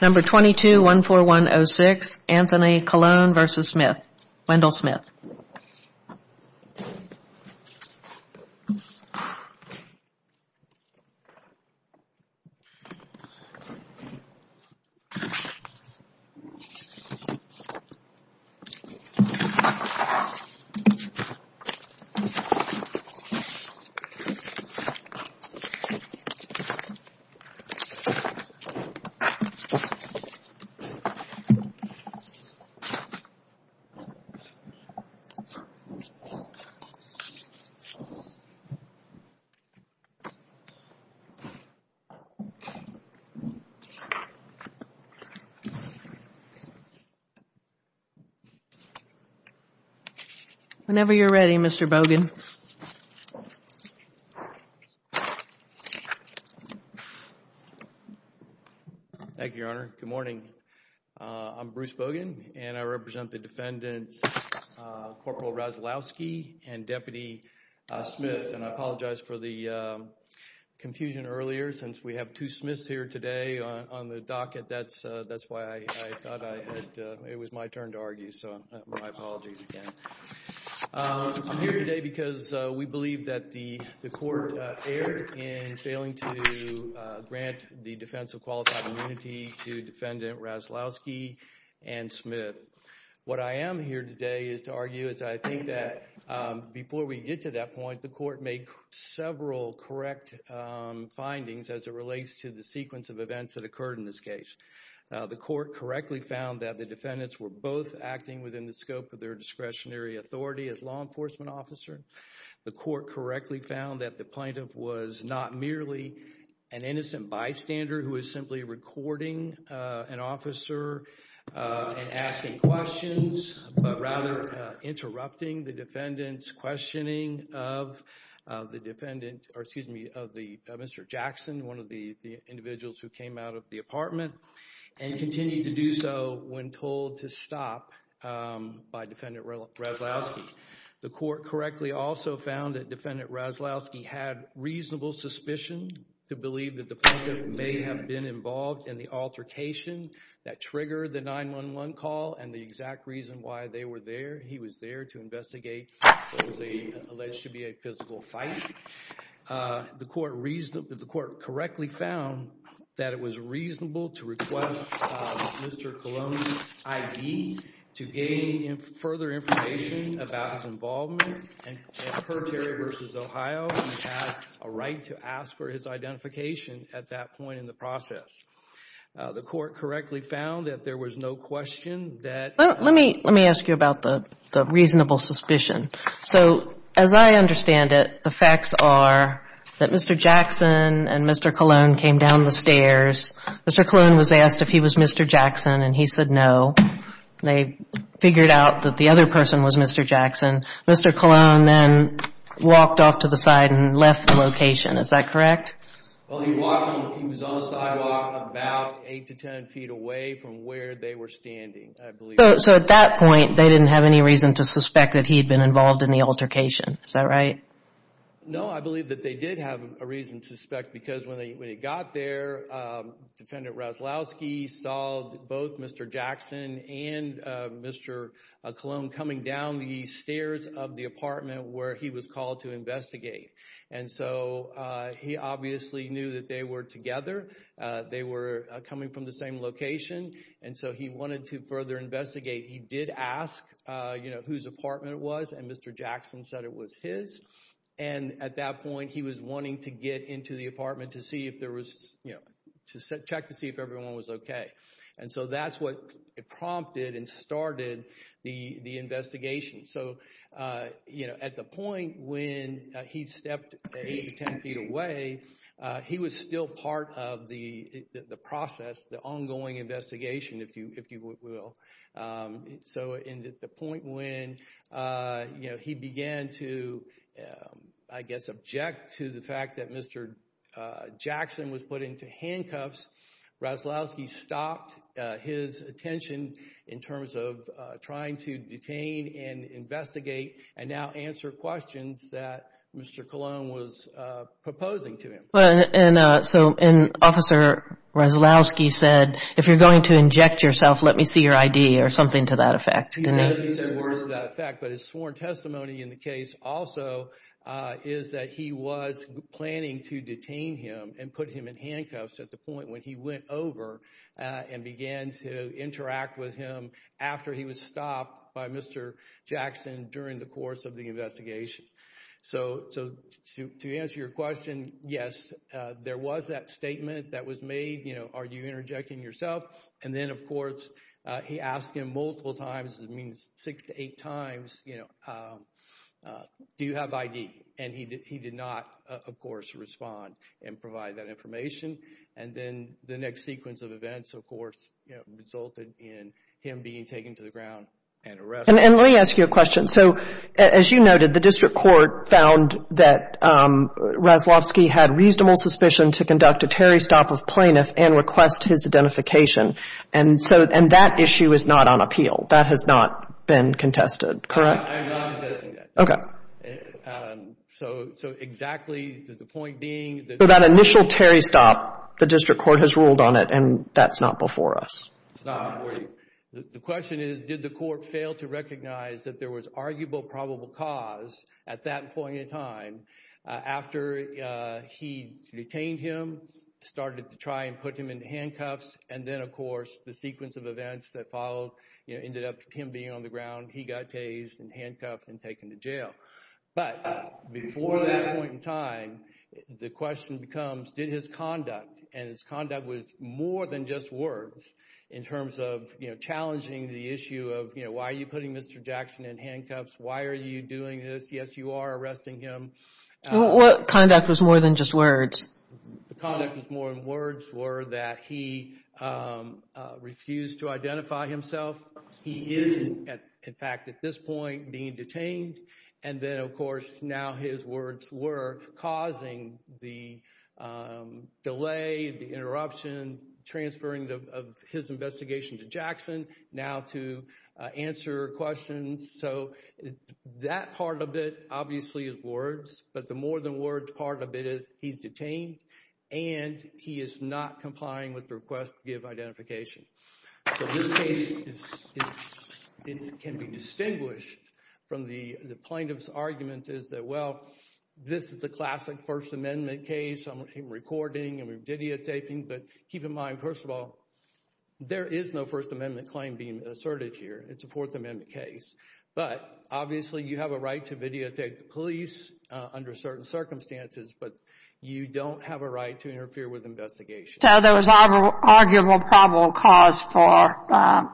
Number 22, 14106, Anthony Colon v. Wendell Smith. Whenever you're ready, Mr. Bogan. Thank you, Your Honor. Good morning. I'm Bruce Bogan, and I represent the defendants, Corporal Rozalowski and Deputy Smith. And I apologize for the confusion earlier. Since we have two Smiths here today on the docket, that's why I thought it was my turn to argue. So my apologies again. I'm here today because we believe that the court erred in failing to grant the defense of qualified immunity to Defendant Rozalowski and Smith. What I am here today is to argue is I think that before we get to that point, the court made several correct findings as it relates to the sequence of events that occurred in this case. The court correctly found that the defendants were both acting within the scope of their discretionary authority as law enforcement officers. The court correctly found that the plaintiff was not merely an innocent bystander who is simply recording an officer and asking questions, but rather interrupting the defendant's questioning of Mr. Jackson, one of the individuals who came out of the apartment, and continued to do so when told to stop by Defendant Rozalowski. The court correctly also found that Defendant Rozalowski had reasonable suspicion to believe that the plaintiff may have been involved in the altercation that triggered the 911 call and the exact reason why they were there. He was there to investigate what was alleged to be a physical fight. The court correctly found that it was reasonable to request Mr. Coloni's ID to gain further information about his involvement in Curt Terry v. Ohio and he had a right to ask for his identification at that point in the process. The court correctly found that there was no question that Let me ask you about the reasonable suspicion. So, as I understand it, the facts are that Mr. Jackson and Mr. Coloni came down the stairs. Mr. Coloni was asked if he was Mr. Jackson and he said no. They figured out that the other person was Mr. Jackson. Mr. Coloni then walked off to the side and left the location. Is that correct? Well, he was on the sidewalk about 8 to 10 feet away from where they were standing. So, at that point, they didn't have any reason to suspect that he had been involved in the altercation. Is that right? No, I believe that they did have a reason to suspect because when they got there, Defendant Rozalowski saw both Mr. Jackson and Mr. Coloni coming down the stairs of the apartment where he was called to investigate. And so he obviously knew that they were together. They were coming from the same location. And so he wanted to further investigate. He did ask, you know, whose apartment it was. And Mr. Jackson said it was his. And at that point, he was wanting to get into the apartment to see if there was, you know, to check to see if everyone was OK. And so that's what prompted and started the investigation. So, you know, at the point when he stepped 8 to 10 feet away, he was still part of the process, the ongoing investigation, if you will. So in the point when, you know, he began to, I guess, object to the fact that Mr. Jackson was put into handcuffs, Rozalowski stopped his attention in terms of trying to detain and investigate and now answer questions that Mr. Coloni was proposing to him. And so Officer Rozalowski said, if you're going to inject yourself, let me see your ID or something to that effect. But his sworn testimony in the case also is that he was planning to detain him and put him in handcuffs at the point when he went over and began to interact with him after he was stopped by Mr. Jackson during the course of the investigation. So to answer your question, yes, there was that statement that was made, you know, are you interjecting yourself? And then, of course, he asked him multiple times, it means six to eight times, you know, do you have ID? And he did not, of course, respond and provide that information. And then the next sequence of events, of course, resulted in him being taken to the ground and arrested. And let me ask you a question. So as you noted, the district court found that Rozalowski had reasonable suspicion to conduct a Terry stop of plaintiff and request his identification. And so that issue is not on appeal. That has not been contested, correct? I'm not contesting that. Okay. So exactly, the point being that— So that initial Terry stop, the district court has ruled on it, and that's not before us. It's not before you. The question is did the court fail to recognize that there was arguable probable cause at that point in time after he detained him, started to try and put him in handcuffs? And then, of course, the sequence of events that followed ended up with him being on the ground, he got tased and handcuffed and taken to jail. But before that point in time, the question becomes did his conduct, and his conduct was more than just words in terms of challenging the issue of, you know, why are you putting Mr. Jackson in handcuffs? Why are you doing this? Yes, you are arresting him. What conduct was more than just words? The conduct was more than words were that he refused to identify himself. He is, in fact, at this point being detained, and then, of course, now his words were causing the delay, the interruption, transferring of his investigation to Jackson, now to answer questions. So that part of it obviously is words, but the more than words part of it is he's detained, and he is not complying with the request to give identification. So this case can be distinguished from the plaintiff's argument is that, well, this is a classic First Amendment case. I'm recording and we're videotaping, but keep in mind, first of all, there is no First Amendment claim being asserted here. It's a Fourth Amendment case, but obviously you have a right to videotape the police under certain circumstances, but you don't have a right to interfere with investigations. So there was arguable probable cause for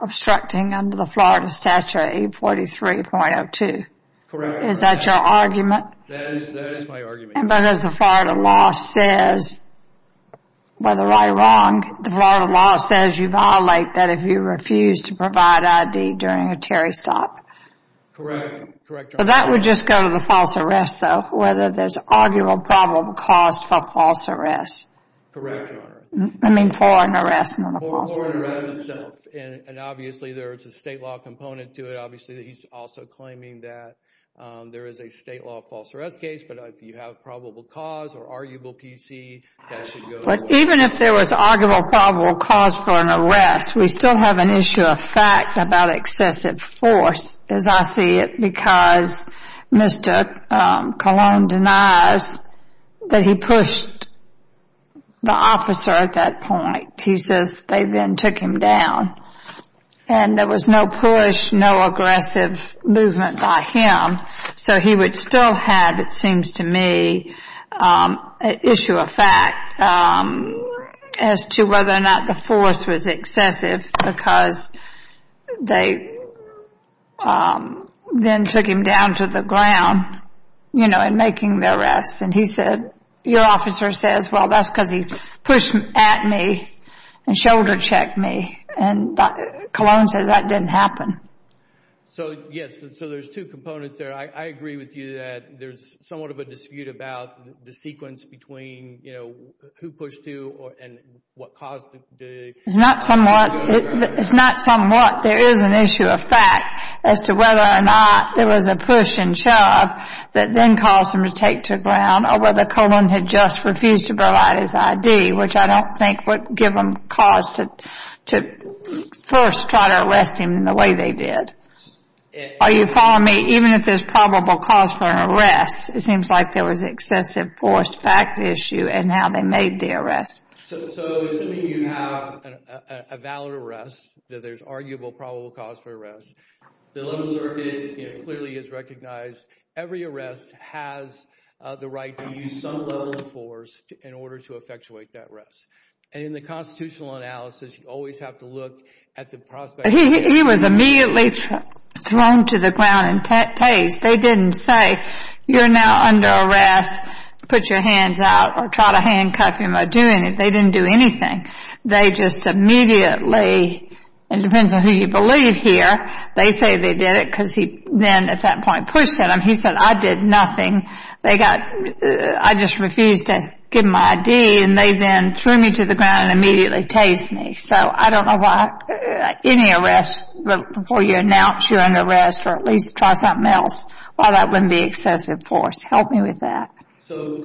obstructing under the Florida Statute 843.02. Correct. Is that your argument? That is my argument. But as the Florida law says, whether I'm wrong, the Florida law says you violate that if you refuse to provide ID during a Terry stop. Correct. But that would just go to the false arrest, though, whether there's arguable probable cause for false arrest. Correct, Your Honor. I mean for an arrest, not a false arrest. For an arrest itself, and obviously there's a state law component to it. Obviously, he's also claiming that there is a state law false arrest case, but if you have probable cause or arguable PC, that should go to the Florida law. Arguable probable cause for an arrest. We still have an issue of fact about excessive force, as I see it, because Mr. Colon denies that he pushed the officer at that point. He says they then took him down, and there was no push, no aggressive movement by him. So he would still have, it seems to me, an issue of fact as to whether or not the force was excessive because they then took him down to the ground, you know, and making the arrest. And he said, your officer says, well, that's because he pushed at me and shoulder checked me. And Colon says that didn't happen. So, yes, so there's two components there. I agree with you that there's somewhat of a dispute about the sequence between, you know, who pushed who and what caused the. It's not somewhat. It's not somewhat. There is an issue of fact as to whether or not there was a push and shove that then caused him to take to the ground or whether Colon had just refused to provide his ID, which I don't think would give him cause to first try to arrest him in the way they did. Are you following me? Even if there's probable cause for an arrest, it seems like there was an excessive force fact issue in how they made the arrest. So assuming you have a valid arrest, that there's arguable probable cause for arrest, the level circuit clearly is recognized. Every arrest has the right to use some level of force in order to effectuate that arrest. And in the constitutional analysis, you always have to look at the prospect. He was immediately thrown to the ground and tased. They didn't say, you're now under arrest. Put your hands out or try to handcuff him or do anything. They didn't do anything. They just immediately, it depends on who you believe here, they say they did it because he then at that point pushed him. He said, I did nothing. They got, I just refused to give him my ID, and they then threw me to the ground and immediately tased me. So I don't know why any arrest, before you announce you're under arrest or at least try something else, why that wouldn't be excessive force. Help me with that. So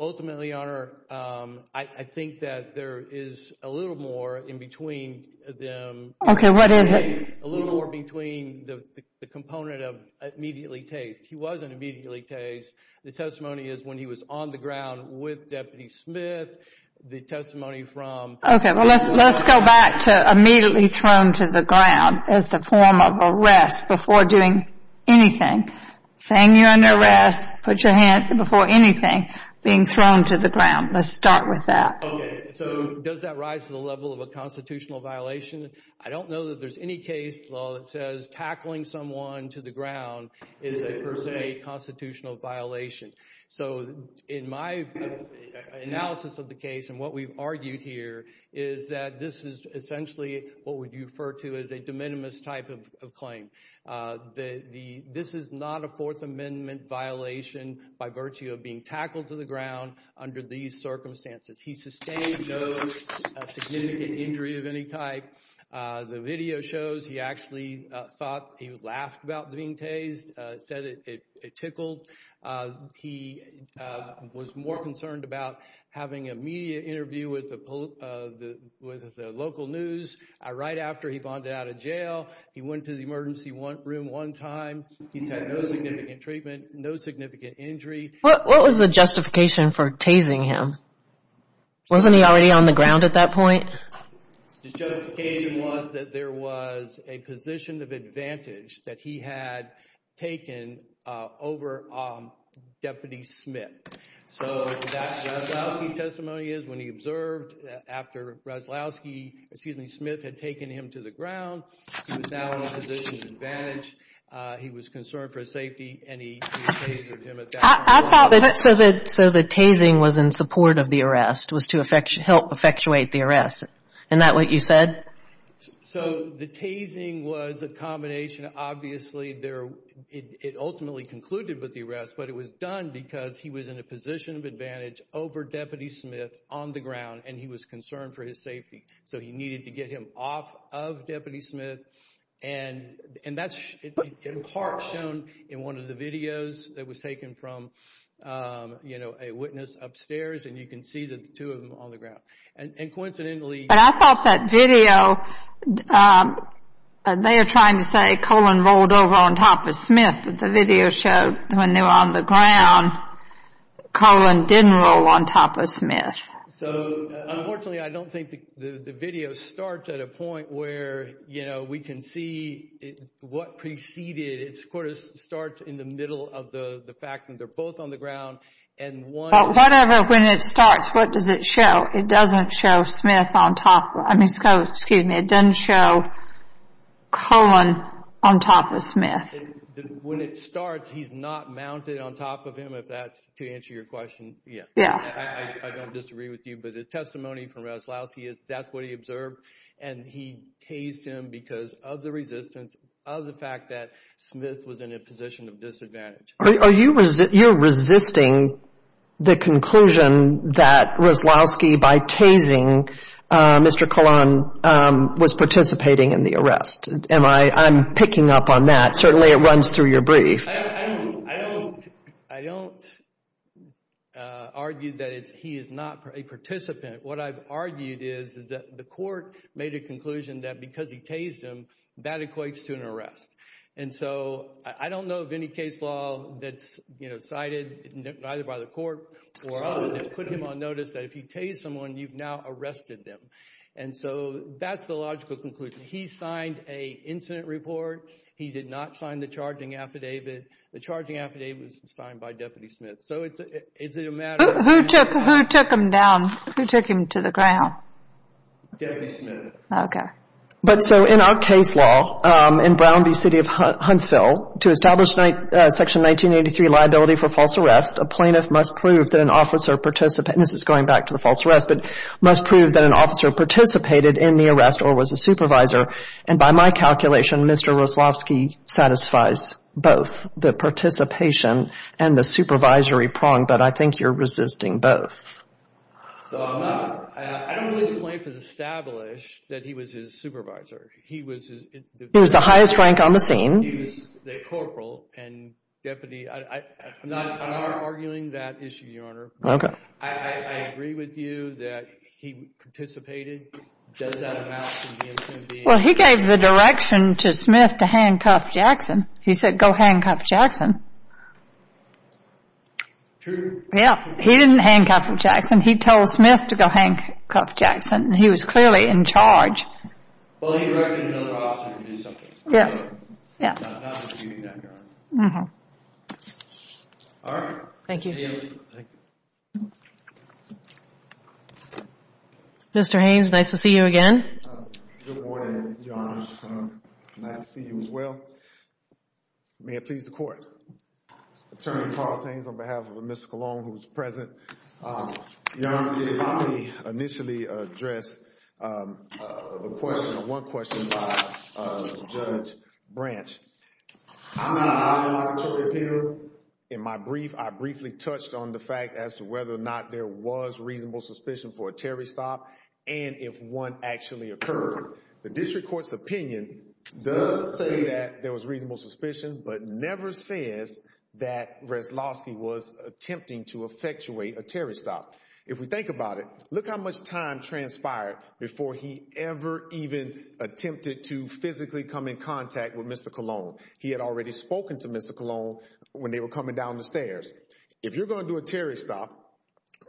ultimately, Your Honor, I think that there is a little more in between them. Okay, what is it? A little more between the component of immediately tased. He wasn't immediately tased. The testimony is when he was on the ground with Deputy Smith. The testimony from Okay, well let's go back to immediately thrown to the ground as the form of arrest before doing anything. Saying you're under arrest, put your hand before anything, being thrown to the ground. Let's start with that. Okay, so does that rise to the level of a constitutional violation? I don't know that there's any case law that says tackling someone to the ground is a per se constitutional violation. So in my analysis of the case and what we've argued here is that this is essentially what we refer to as a de minimis type of claim. This is not a Fourth Amendment violation by virtue of being tackled to the ground under these circumstances. He sustained no significant injury of any type. The video shows he actually thought he laughed about being tased, said it tickled. He was more concerned about having a media interview with the local news. Right after he bonded out of jail, he went to the emergency room one time. He's had no significant treatment, no significant injury. What was the justification for tasing him? Wasn't he already on the ground at that point? The justification was that there was a position of advantage that he had taken over Deputy Smith. So that's what Roslowski's testimony is. When he observed after Roslowski, excuse me, Smith had taken him to the ground, he was now in a position of advantage. He was concerned for his safety and he tasered him at that point. So the tasing was in support of the arrest, was to help effectuate the arrest. Isn't that what you said? So the tasing was a combination. Obviously, it ultimately concluded with the arrest. But it was done because he was in a position of advantage over Deputy Smith on the ground, and he was concerned for his safety. So he needed to get him off of Deputy Smith. And that's in part shown in one of the videos that was taken from, you know, a witness upstairs. And you can see the two of them on the ground. And coincidentally— But I thought that video, they are trying to say Colin rolled over on top of Smith. But the video showed when they were on the ground, Colin didn't roll on top of Smith. So unfortunately, I don't think the video starts at a point where, you know, we can see what preceded it. It sort of starts in the middle of the fact that they're both on the ground. But whatever, when it starts, what does it show? It doesn't show Smith on top—I mean, excuse me, it doesn't show Colin on top of Smith. When it starts, he's not mounted on top of him, if that's to answer your question. Yeah. I don't disagree with you, but the testimony from Roslowski is that's what he observed. And he tased him because of the resistance, of the fact that Smith was in a position of disadvantage. Are you—you're resisting the conclusion that Roslowski, by tasing Mr. Colin, was participating in the arrest. Am I—I'm picking up on that. Certainly it runs through your brief. I don't argue that he is not a participant. What I've argued is that the court made a conclusion that because he tased him, that equates to an arrest. And so I don't know of any case law that's, you know, cited either by the court or others that put him on notice that if he tased someone, you've now arrested them. And so that's the logical conclusion. He signed an incident report. He did not sign the charging affidavit. The charging affidavit was signed by Deputy Smith. So is it a matter of— Who took him down? Who took him to the ground? Deputy Smith. Okay. But so in our case law, in Brown v. City of Huntsville, to establish Section 1983 liability for false arrest, a plaintiff must prove that an officer participated—this is going back to the false arrest— must prove that an officer participated in the arrest or was a supervisor. And by my calculation, Mr. Roslowski satisfies both, the participation and the supervisory prong. But I think you're resisting both. So I'm not—I don't believe the plaintiff established that he was his supervisor. He was his— He was the highest rank on the scene. He was the corporal and deputy. I'm not arguing that issue, Your Honor. Okay. I agree with you that he participated. Does that amount to him being— Well, he gave the direction to Smith to handcuff Jackson. He said, go handcuff Jackson. True. Yeah. He didn't handcuff Jackson. He told Smith to go handcuff Jackson, and he was clearly in charge. Well, he directed another officer to do something. Yeah. So I'm not arguing that, Your Honor. All right. Thank you. Thank you. Thank you. Mr. Haynes, nice to see you again. Good morning, Your Honors. Nice to see you as well. May it please the Court. Attorney Carl Haynes on behalf of Ms. Cologne, who is present. Your Honor, let me initially address the question, the one question by Judge Branch. I'm not arguing, Your Honor. In my brief, I briefly touched on the fact as to whether or not there was reasonable suspicion for a terrorist stop and if one actually occurred. The district court's opinion does say that there was reasonable suspicion, but never says that Reslovsky was attempting to effectuate a terrorist stop. If we think about it, look how much time transpired before he ever even attempted to physically come in contact with Mr. Cologne. He had already spoken to Mr. Cologne when they were coming down the stairs. If you're going to do a terrorist stop,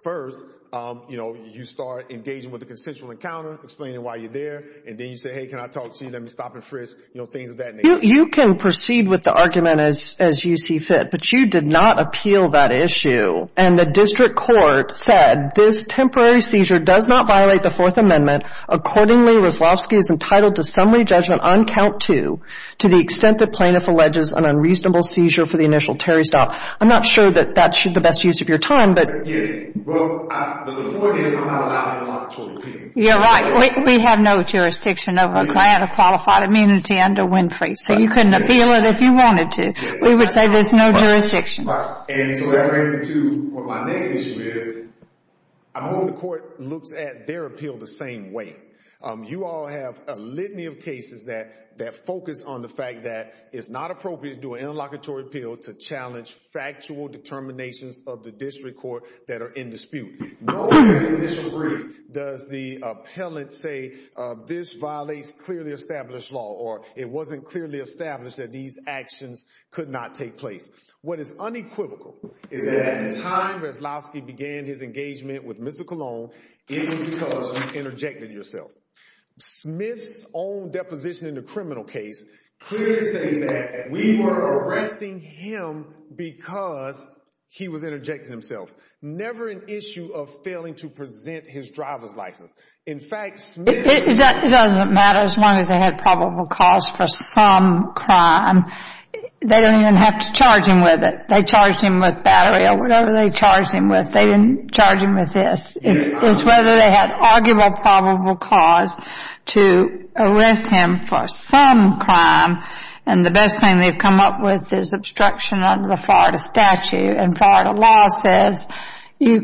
first, you know, you start engaging with a consensual encounter, explaining why you're there, and then you say, hey, can I talk to you, let me stop and frisk, you know, things of that nature. You can proceed with the argument as you see fit, but you did not appeal that issue. And the district court said this temporary seizure does not violate the Fourth Amendment. Accordingly, Reslovsky is entitled to summary judgment on count two to the extent the plaintiff alleges an unreasonable seizure for the initial terrorist stop. I'm not sure that that's the best use of your time, but — Yes. Well, the point is we're not allowed to appeal. You're right. We have no jurisdiction over a client of qualified immunity under Winfrey, so you couldn't appeal it if you wanted to. We would say there's no jurisdiction. Right. And so that brings me to what my next issue is. I'm hoping the court looks at their appeal the same way. You all have a litany of cases that focus on the fact that it's not appropriate to do an interlocutory appeal to challenge factual determinations of the district court that are in dispute. No where in the initial brief does the appellant say this violates clearly established law or it wasn't clearly established that these actions could not take place. What is unequivocal is that at the time Reslovsky began his engagement with Mr. Colon, it was because you interjected yourself. Smith's own deposition in the criminal case clearly says that we were arresting him because he was interjecting himself. Never an issue of failing to present his driver's license. In fact, Smith... It doesn't matter as long as they had probable cause for some crime. They don't even have to charge him with it. They charged him with battery or whatever they charged him with. They didn't charge him with this. It's whether they had arguable probable cause to arrest him for some crime, and the best thing they've come up with is obstruction under the Florida statute. And Florida law says you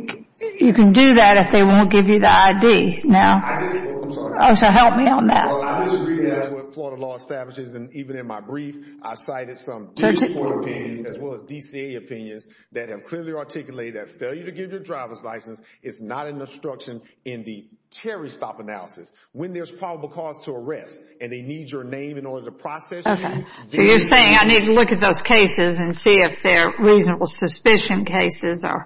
can do that if they won't give you the ID. I disagree. I'm sorry. So help me on that. I disagree with what Florida law establishes. And even in my brief, I cited some district court opinions as well as DCA opinions that have clearly articulated that failure to give your driver's license is not an obstruction in the cherry stop analysis. When there's probable cause to arrest and they need your name in order to process you... So you're saying I need to look at those cases and see if they're reasonable suspicion cases or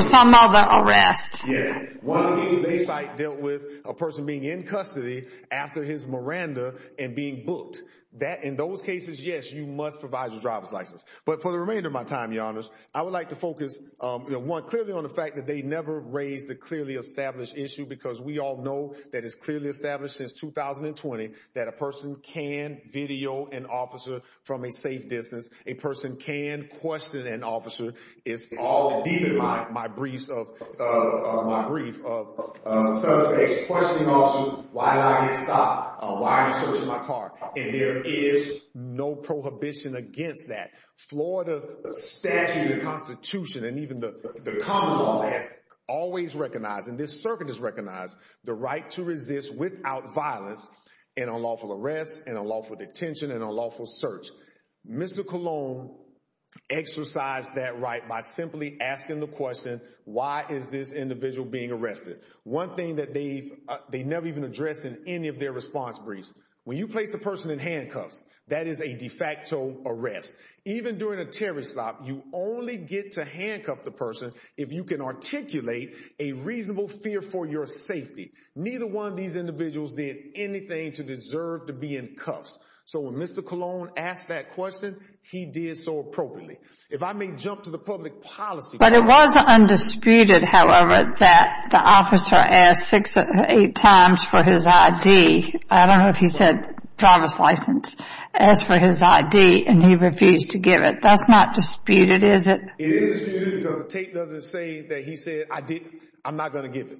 some other arrests. Yes. One case they cite dealt with a person being in custody after his Miranda and being booked. In those cases, yes, you must provide your driver's license. But for the remainder of my time, Your Honors, I would like to focus, one, clearly on the fact that they never raised the clearly established issue because we all know that it's clearly established since 2020 that a person can video an officer from a safe distance. A person can question an officer. It's all deep in my brief of suspects questioning officers, why did I get stopped? Why are you searching my car? And there is no prohibition against that. Florida statute and constitution and even the common law has always recognized, and this circuit has recognized, the right to resist without violence in unlawful arrests, in unlawful detention, in unlawful search. Mr. Colon exercised that right by simply asking the question, why is this individual being arrested? One thing that they never even addressed in any of their response briefs. When you place a person in handcuffs, that is a de facto arrest. Even during a terrorist stop, you only get to handcuff the person if you can articulate a reasonable fear for your safety. Neither one of these individuals did anything to deserve to be in cuffs. So when Mr. Colon asked that question, he did so appropriately. If I may jump to the public policy. But it was undisputed, however, that the officer asked six or eight times for his ID. I don't know if he said driver's license. Asked for his ID and he refused to give it. That's not disputed, is it? It is disputed because the tape doesn't say that he said, I'm not going to give it.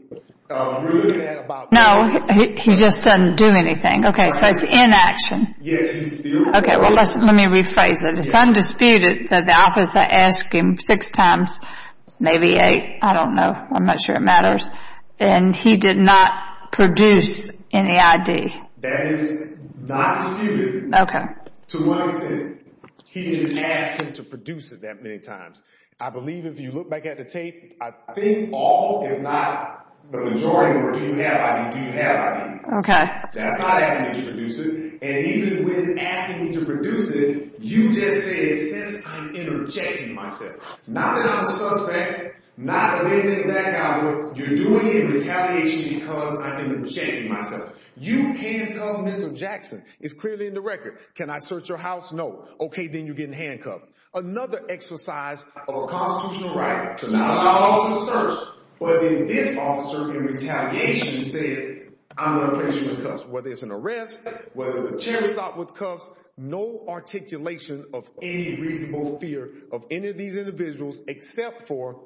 No, he just doesn't do anything. Okay, so it's inaction. Okay, let me rephrase it. It's undisputed that the officer asked him six times, maybe eight, I don't know. I'm not sure it matters. And he did not produce any ID. That is not disputed. Okay. To one extent, he didn't ask him to produce it that many times. I believe if you look back at the tape, I think all, if not the majority of them, do have ID. Okay. That's not asking him to produce it. And even with asking him to produce it, you just said, since I'm interjecting myself. Not that I'm a suspect. Not that I'm anything of that caliber. You're doing it in retaliation because I'm interjecting myself. You handcuffed Mr. Jackson. It's clearly in the record. Can I search your house? No. Okay, then you're getting handcuffed. Another exercise of constitutional right to not allow for a search. But then this officer, in retaliation, says, I'm going to place you in cuffs. Whether it's an arrest, whether it's a chair assault with cuffs, no articulation of any reasonable fear of any of these individuals except for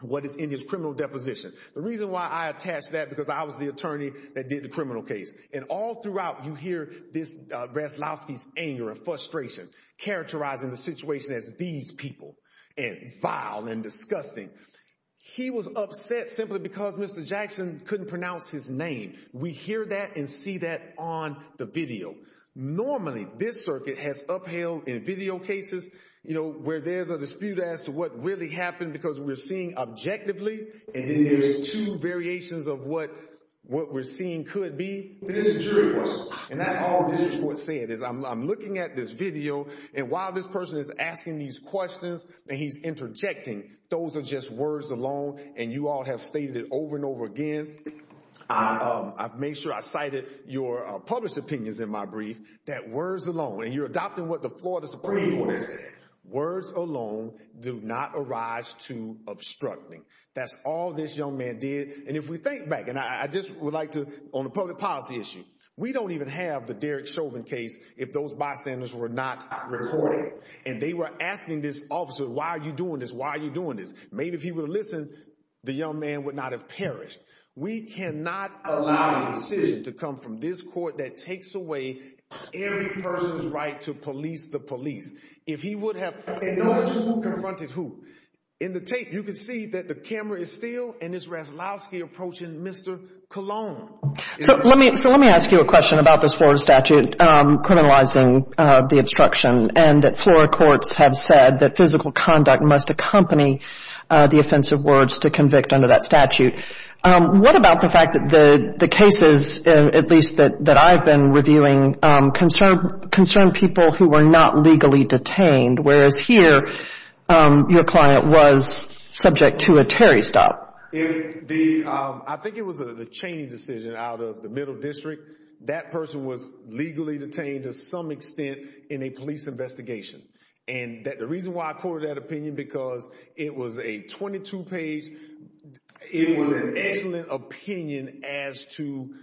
what is in his criminal deposition. The reason why I attached that, because I was the attorney that did the criminal case. And all throughout, you hear this, Veslavsky's anger and frustration, characterizing the situation as these people. And vile and disgusting. He was upset simply because Mr. Jackson couldn't pronounce his name. We hear that and see that on the video. Normally, this circuit has upheld in video cases, you know, where there's a dispute as to what really happened because we're seeing objectively, and then there's two variations of what we're seeing could be. This is true. And that's all this court said, is I'm looking at this video, and while this person is asking these questions, and he's interjecting, those are just words alone, and you all have stated it over and over again. I've made sure I cited your published opinions in my brief, that words alone, and you're adopting what the Florida Supreme Court said, words alone do not arise to obstruct me. That's all this young man did. And if we think back, and I just would like to, on the public policy issue, we don't even have the Derek Chauvin case if those bystanders were not recorded. And they were asking this officer, why are you doing this? Why are you doing this? Maybe if he would have listened, the young man would not have perished. We cannot allow a decision to come from this court that takes away every person's right to police the police. If he would have, and notice who confronted who. In the tape, you can see that the camera is still, and it's Raslowski approaching Mr. Colon. So let me ask you a question about this Florida statute criminalizing the obstruction, and that Florida courts have said that physical conduct must accompany the offensive words to convict under that statute. What about the fact that the cases, at least that I've been reviewing, concerned people who were not legally detained, whereas here, your client was subject to a Terry stop? I think it was a chaining decision out of the middle district. That person was legally detained to some extent in a police investigation. And the reason why I quoted that opinion because it was a 22 page, it was an excellent opinion as to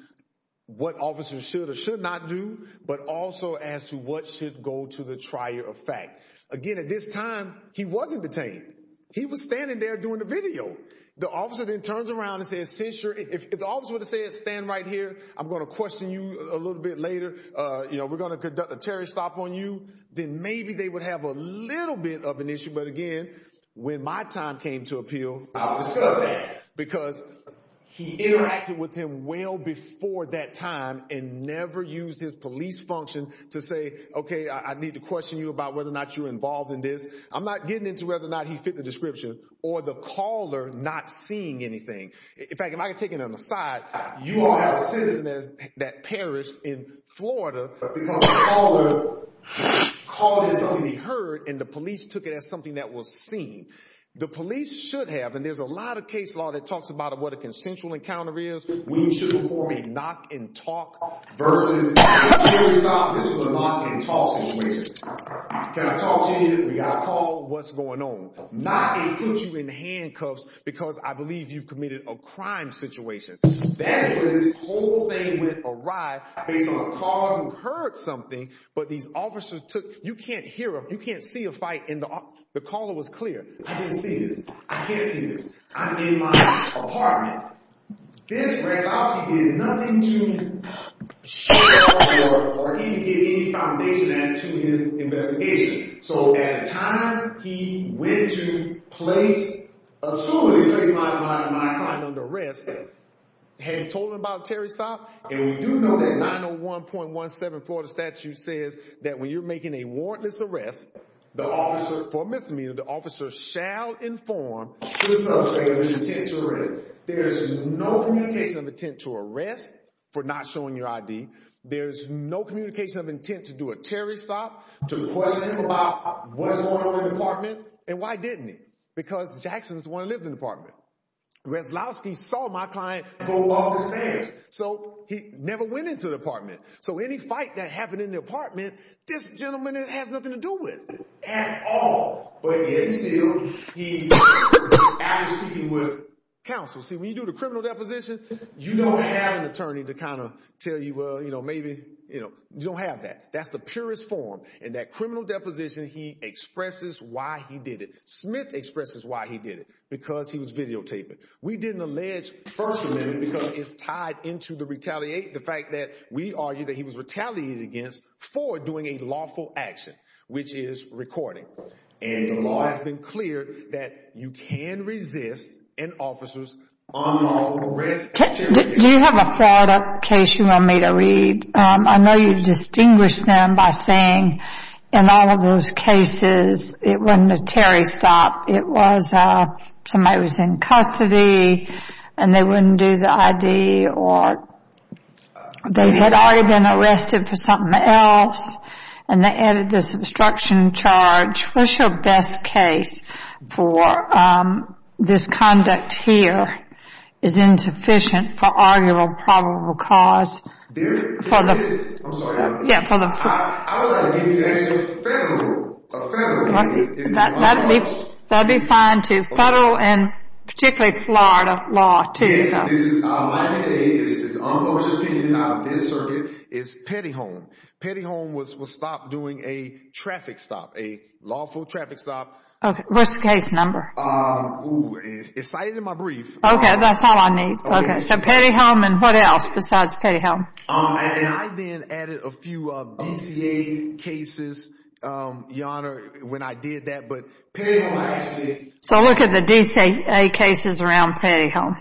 what officers should or should not do, but also as to what should go to the trier of fact. Again, at this time, he wasn't detained. He was standing there doing the video. The officer then turns around and says, since you're, if the officer would have said, stand right here, I'm going to question you a little bit later. We're going to conduct a Terry stop on you. Then maybe they would have a little bit of an issue. But again, when my time came to appeal, because he interacted with him well before that time and never used his police function to say, okay, I need to question you about whether or not you're involved in this. I'm not getting into whether or not he fit the description or the caller not seeing anything. In fact, if I could take it on the side, you all have citizens that perished in Florida because the caller called it something he heard and the police took it as something that was seen. The police should have, and there's a lot of case law that talks about what a consensual encounter is. We should perform a knock and talk versus Terry stop this with a knock and talk situation. Can I talk to you? We got a call. What's going on? Knock and put you in handcuffs because I believe you've committed a crime situation. That's where this whole thing went awry based on a caller who heard something, but these officers took, you can't hear him. You can't see a fight in the, the caller was clear. I didn't see this. I can't see this. I'm in my apartment. He did nothing to get any foundation as to his investigation. So at the time he went to place a suit in place, my client under arrest had told him about Terry stop. And we do know that 901.17 Florida statute says that when you're making a warrantless arrest, the officer for misdemeanor, the officer shall inform the suspect. There's no communication of intent to arrest for not showing your ID. There's no communication of intent to do a Terry stop to the question about what's going on in the apartment. And why didn't he? Because Jackson's the one who lived in the apartment. Resolowski saw my client go off the stairs, so he never went into the apartment. So any fight that happened in the apartment, this gentleman has nothing to do with at all. He actually with counsel, see when you do the criminal deposition, you don't have an attorney to kind of tell you, well, you know, maybe, you know, you don't have that. That's the purest form. And that criminal deposition, he expresses why he did it. Smith expresses why he did it because he was videotaping. We didn't allege first amendment because it's tied into the retaliate. The fact that we argue that he was retaliated against for doing a lawful action, which is recording. And the law has been cleared that you can resist an officer's unlawful arrest. Do you have a fraud up case you want me to read? I know you distinguish them by saying in all of those cases, it wasn't a Terry stop. It was somebody who was in custody and they wouldn't do the ID or they had already been charged. What's your best case for this conduct here is insufficient for arguable probable cause. There is. I'm sorry. Yeah. I would like to give you the actual federal opinion. That would be fine too. Federal and particularly Florida law too. Yes. This is my opinion. It's an unfocused opinion. This circuit is petty home. Petty home was stopped doing a traffic stop. A lawful traffic stop. Okay. Risk case number. Excited in my brief. Okay. That's all I need. Okay. So petty home and what else besides petty home? And I then added a few of DCA cases. Your Honor, when I did that, but petty home actually. So look at the DCA cases around petty home.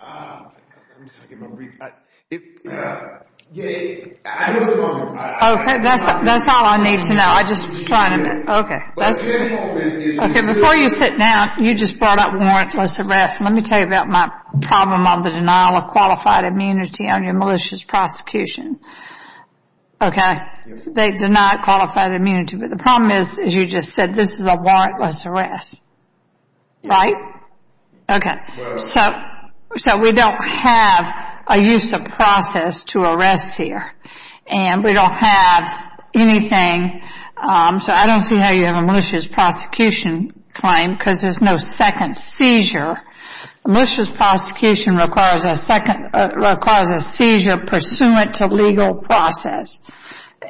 Let me just look at my brief. Yeah. Okay. That's all I need to know. I'm just trying to. Okay. Okay. Before you sit down, you just brought up warrantless arrest. Let me tell you about my problem on the denial of qualified immunity on your malicious prosecution. Okay. They deny qualified immunity, but the problem is, as you just said, this is a warrantless arrest. Right? Okay. So we don't have a use of process to arrest here. And we don't have anything. So I don't see how you have a malicious prosecution claim because there's no second seizure. Malicious prosecution requires a seizure pursuant to legal process.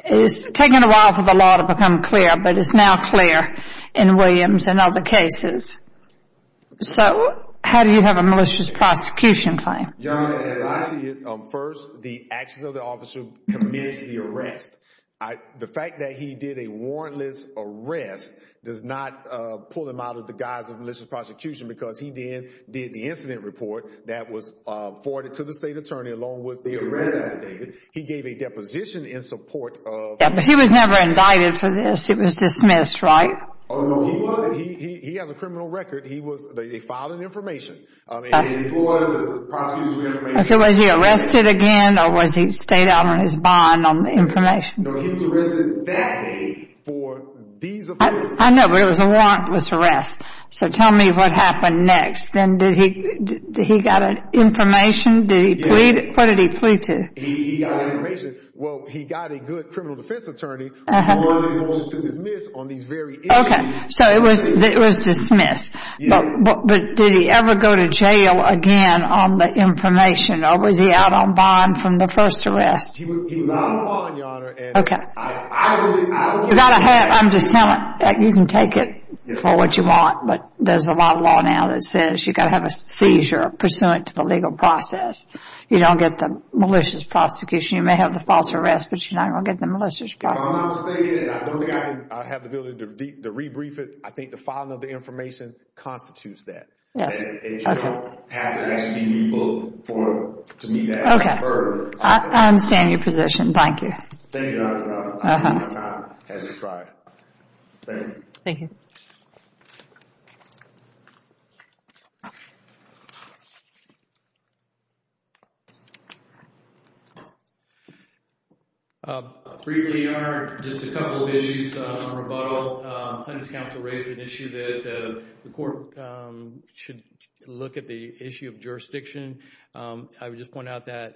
It's taken a while for the law to become clear, but it's now clear in Williams and other cases. So how do you have a malicious prosecution claim? Your Honor, as I see it, first, the actions of the officer who commenced the arrest. The fact that he did a warrantless arrest does not pull him out of the guise of malicious prosecution because he then did the incident report that was forwarded to the state attorney along with the arrest affidavit. He gave a deposition in support of- Yeah, but he was never indicted for this. It was dismissed, right? Oh, no, he wasn't. No, he has a criminal record. He was, they filed an information. I mean, they floored the prosecution with information. Okay, was he arrested again or was he stayed out on his bond on the information? No, he was arrested that day for these offenses. I know, but it was a warrantless arrest. So tell me what happened next. Then did he, did he got an information? Did he plead? What did he plead to? He got information. Well, he got a good criminal defense attorney. Okay, so it was dismissed, but did he ever go to jail again on the information or was he out on bond from the first arrest? He was out on bond, Your Honor. Okay. You got to have, I'm just telling, you can take it for what you want, but there's a lot of law now that says you got to have a seizure pursuant to the legal process. You don't get the malicious prosecution. You may have the false arrest, but you're not going to get the malicious prosecution. If I'm not mistaken, I don't think I have the ability to re-brief it. I think the filing of the information constitutes that. Yes. Okay. It doesn't have to actually be re-booked for me to ask for further. Okay. I understand your position. Thank you. Thank you, Your Honor. I don't have time. As described. Thank you. Thank you. Briefly, Your Honor, just a couple of issues on rebuttal. Plaintiff's counsel raised an issue that the court should look at the issue of jurisdiction. I would just point out that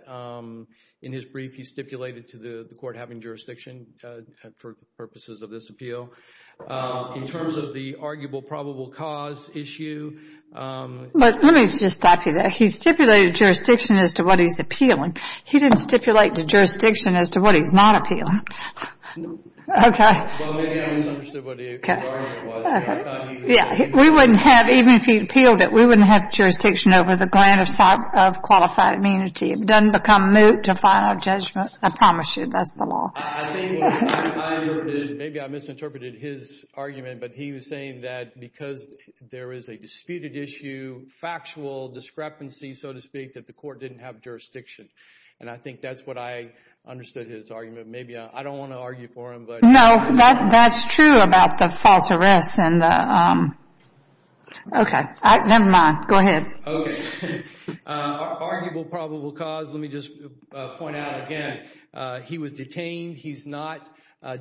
in his brief, he stipulated to the court having jurisdiction for purposes of this appeal. In terms of the arguable probable cause issue. Let me just stop you there. He stipulated jurisdiction as to what he's appealing. He didn't stipulate to jurisdiction as to what he's not appealing. No. Okay. Well, maybe I misunderstood what his argument was. Okay. Yeah. We wouldn't have, even if he appealed it, we wouldn't have jurisdiction over the grant of qualified immunity. It doesn't become moot to final judgment. I promise you that's the law. I think what I interpreted, maybe I misinterpreted his argument, but he was saying that because there is a disputed issue, factual discrepancy, so to speak, that the court didn't have jurisdiction. And I think that's what I understood his argument. Maybe I don't want to argue for him, but. No. That's true about the false arrest and the. Okay. Never mind. Go ahead. Okay. Arguable probable cause. Let me just point out again. He was detained. He's not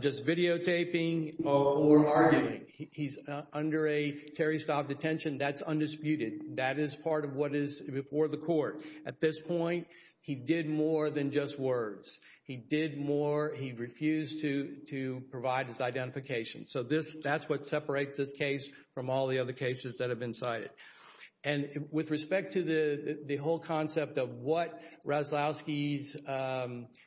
just videotaping or arguing. He's under a Terry-style detention. That's undisputed. That is part of what is before the court. At this point, he did more than just words. He did more. He refused to provide his identification. So, that's what separates this case from all the other cases that have been cited. And with respect to the whole concept of what Raslowski's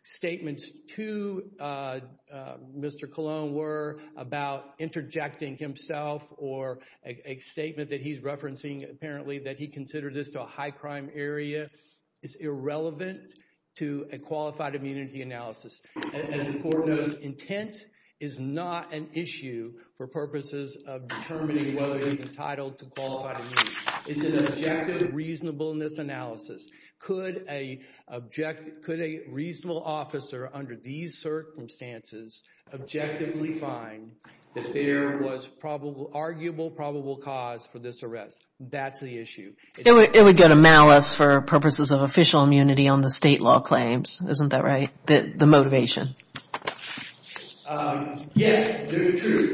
statements to Mr. Cologne were about interjecting himself or a statement that he's referencing, apparently, that he considered this to a high crime area is irrelevant to a qualified immunity analysis. As the court knows, intent is not an issue for purposes of determining whether he's entitled to qualified immunity. It's an objective reasonableness analysis. Could a reasonable officer under these circumstances objectively find that there was probable, arguable probable cause for this arrest? That's the issue. It would go to malice for purposes of official immunity on the state law claims. Isn't that right? The motivation. Yes,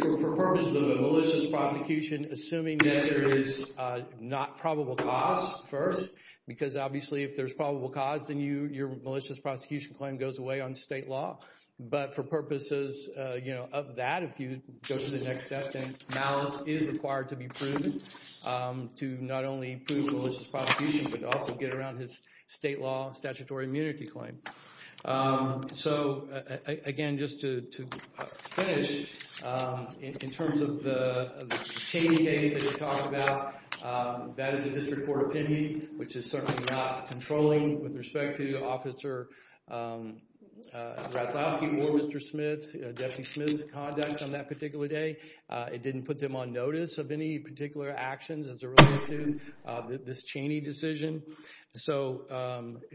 for purposes of a malicious prosecution, assuming that there is not probable cause first, because obviously if there's probable cause, then your malicious prosecution claim goes away on state law. But for purposes of that, if you go to the next step, then malice is required to be proven. To not only prove a malicious prosecution, but also get around his state law statutory immunity claim. So, again, just to finish, in terms of the Cheney case that we talked about, that is a district court opinion, which is certainly not controlling with respect to Officer Raslowski or Mr. Smith, Deputy Smith's conduct on that particular day. It didn't put them on notice of any particular actions as it relates to this Cheney decision. So,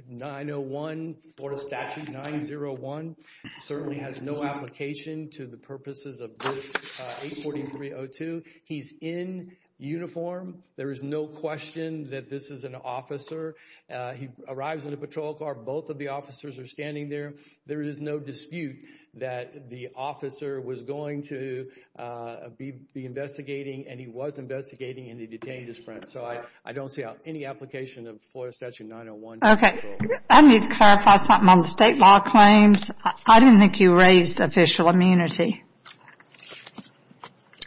901, Florida Statute 901, certainly has no application to the purposes of this 843.02. He's in uniform. There is no question that this is an officer. He arrives in a patrol car. Both of the officers are standing there. So, there is no dispute that the officer was going to be investigating, and he was investigating, and he detained his friend. So, I don't see any application of Florida Statute 901. Okay. I need to clarify something on the state law claims. I didn't think you raised official immunity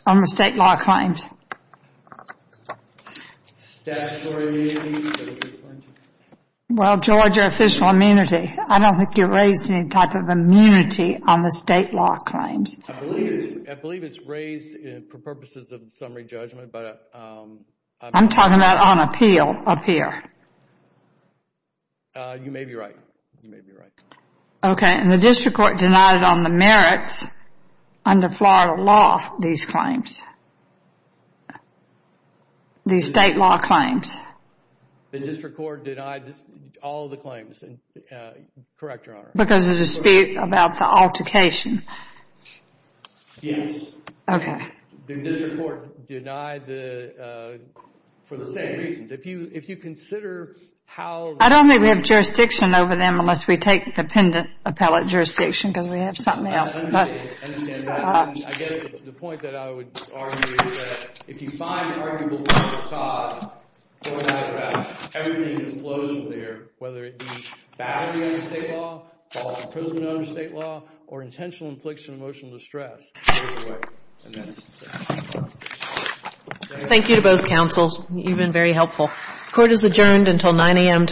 on the state law claims. Well, Georgia official immunity. I don't think you raised any type of immunity on the state law claims. I believe it's raised for purposes of summary judgment. I'm talking about on appeal up here. You may be right. You may be right. Okay. And the district court denied on the merits under Florida law these claims, these state law claims. The district court denied all the claims. Correct, Your Honor. Because of the dispute about the altercation. Yes. Okay. The district court denied for the same reasons. If you consider how... I don't think we have jurisdiction over them unless we take the pendent appellate jurisdiction, because we have something else. I understand that. I guess the point that I would argue is that if you find an arguable cause for that address, everything that flows from there, whether it be battery under state law, false imprisonment under state law, or intentional infliction of emotional distress, goes away. And that's... Thank you to both counsels. You've been very helpful. Court is adjourned until 9 a.m. tomorrow morning.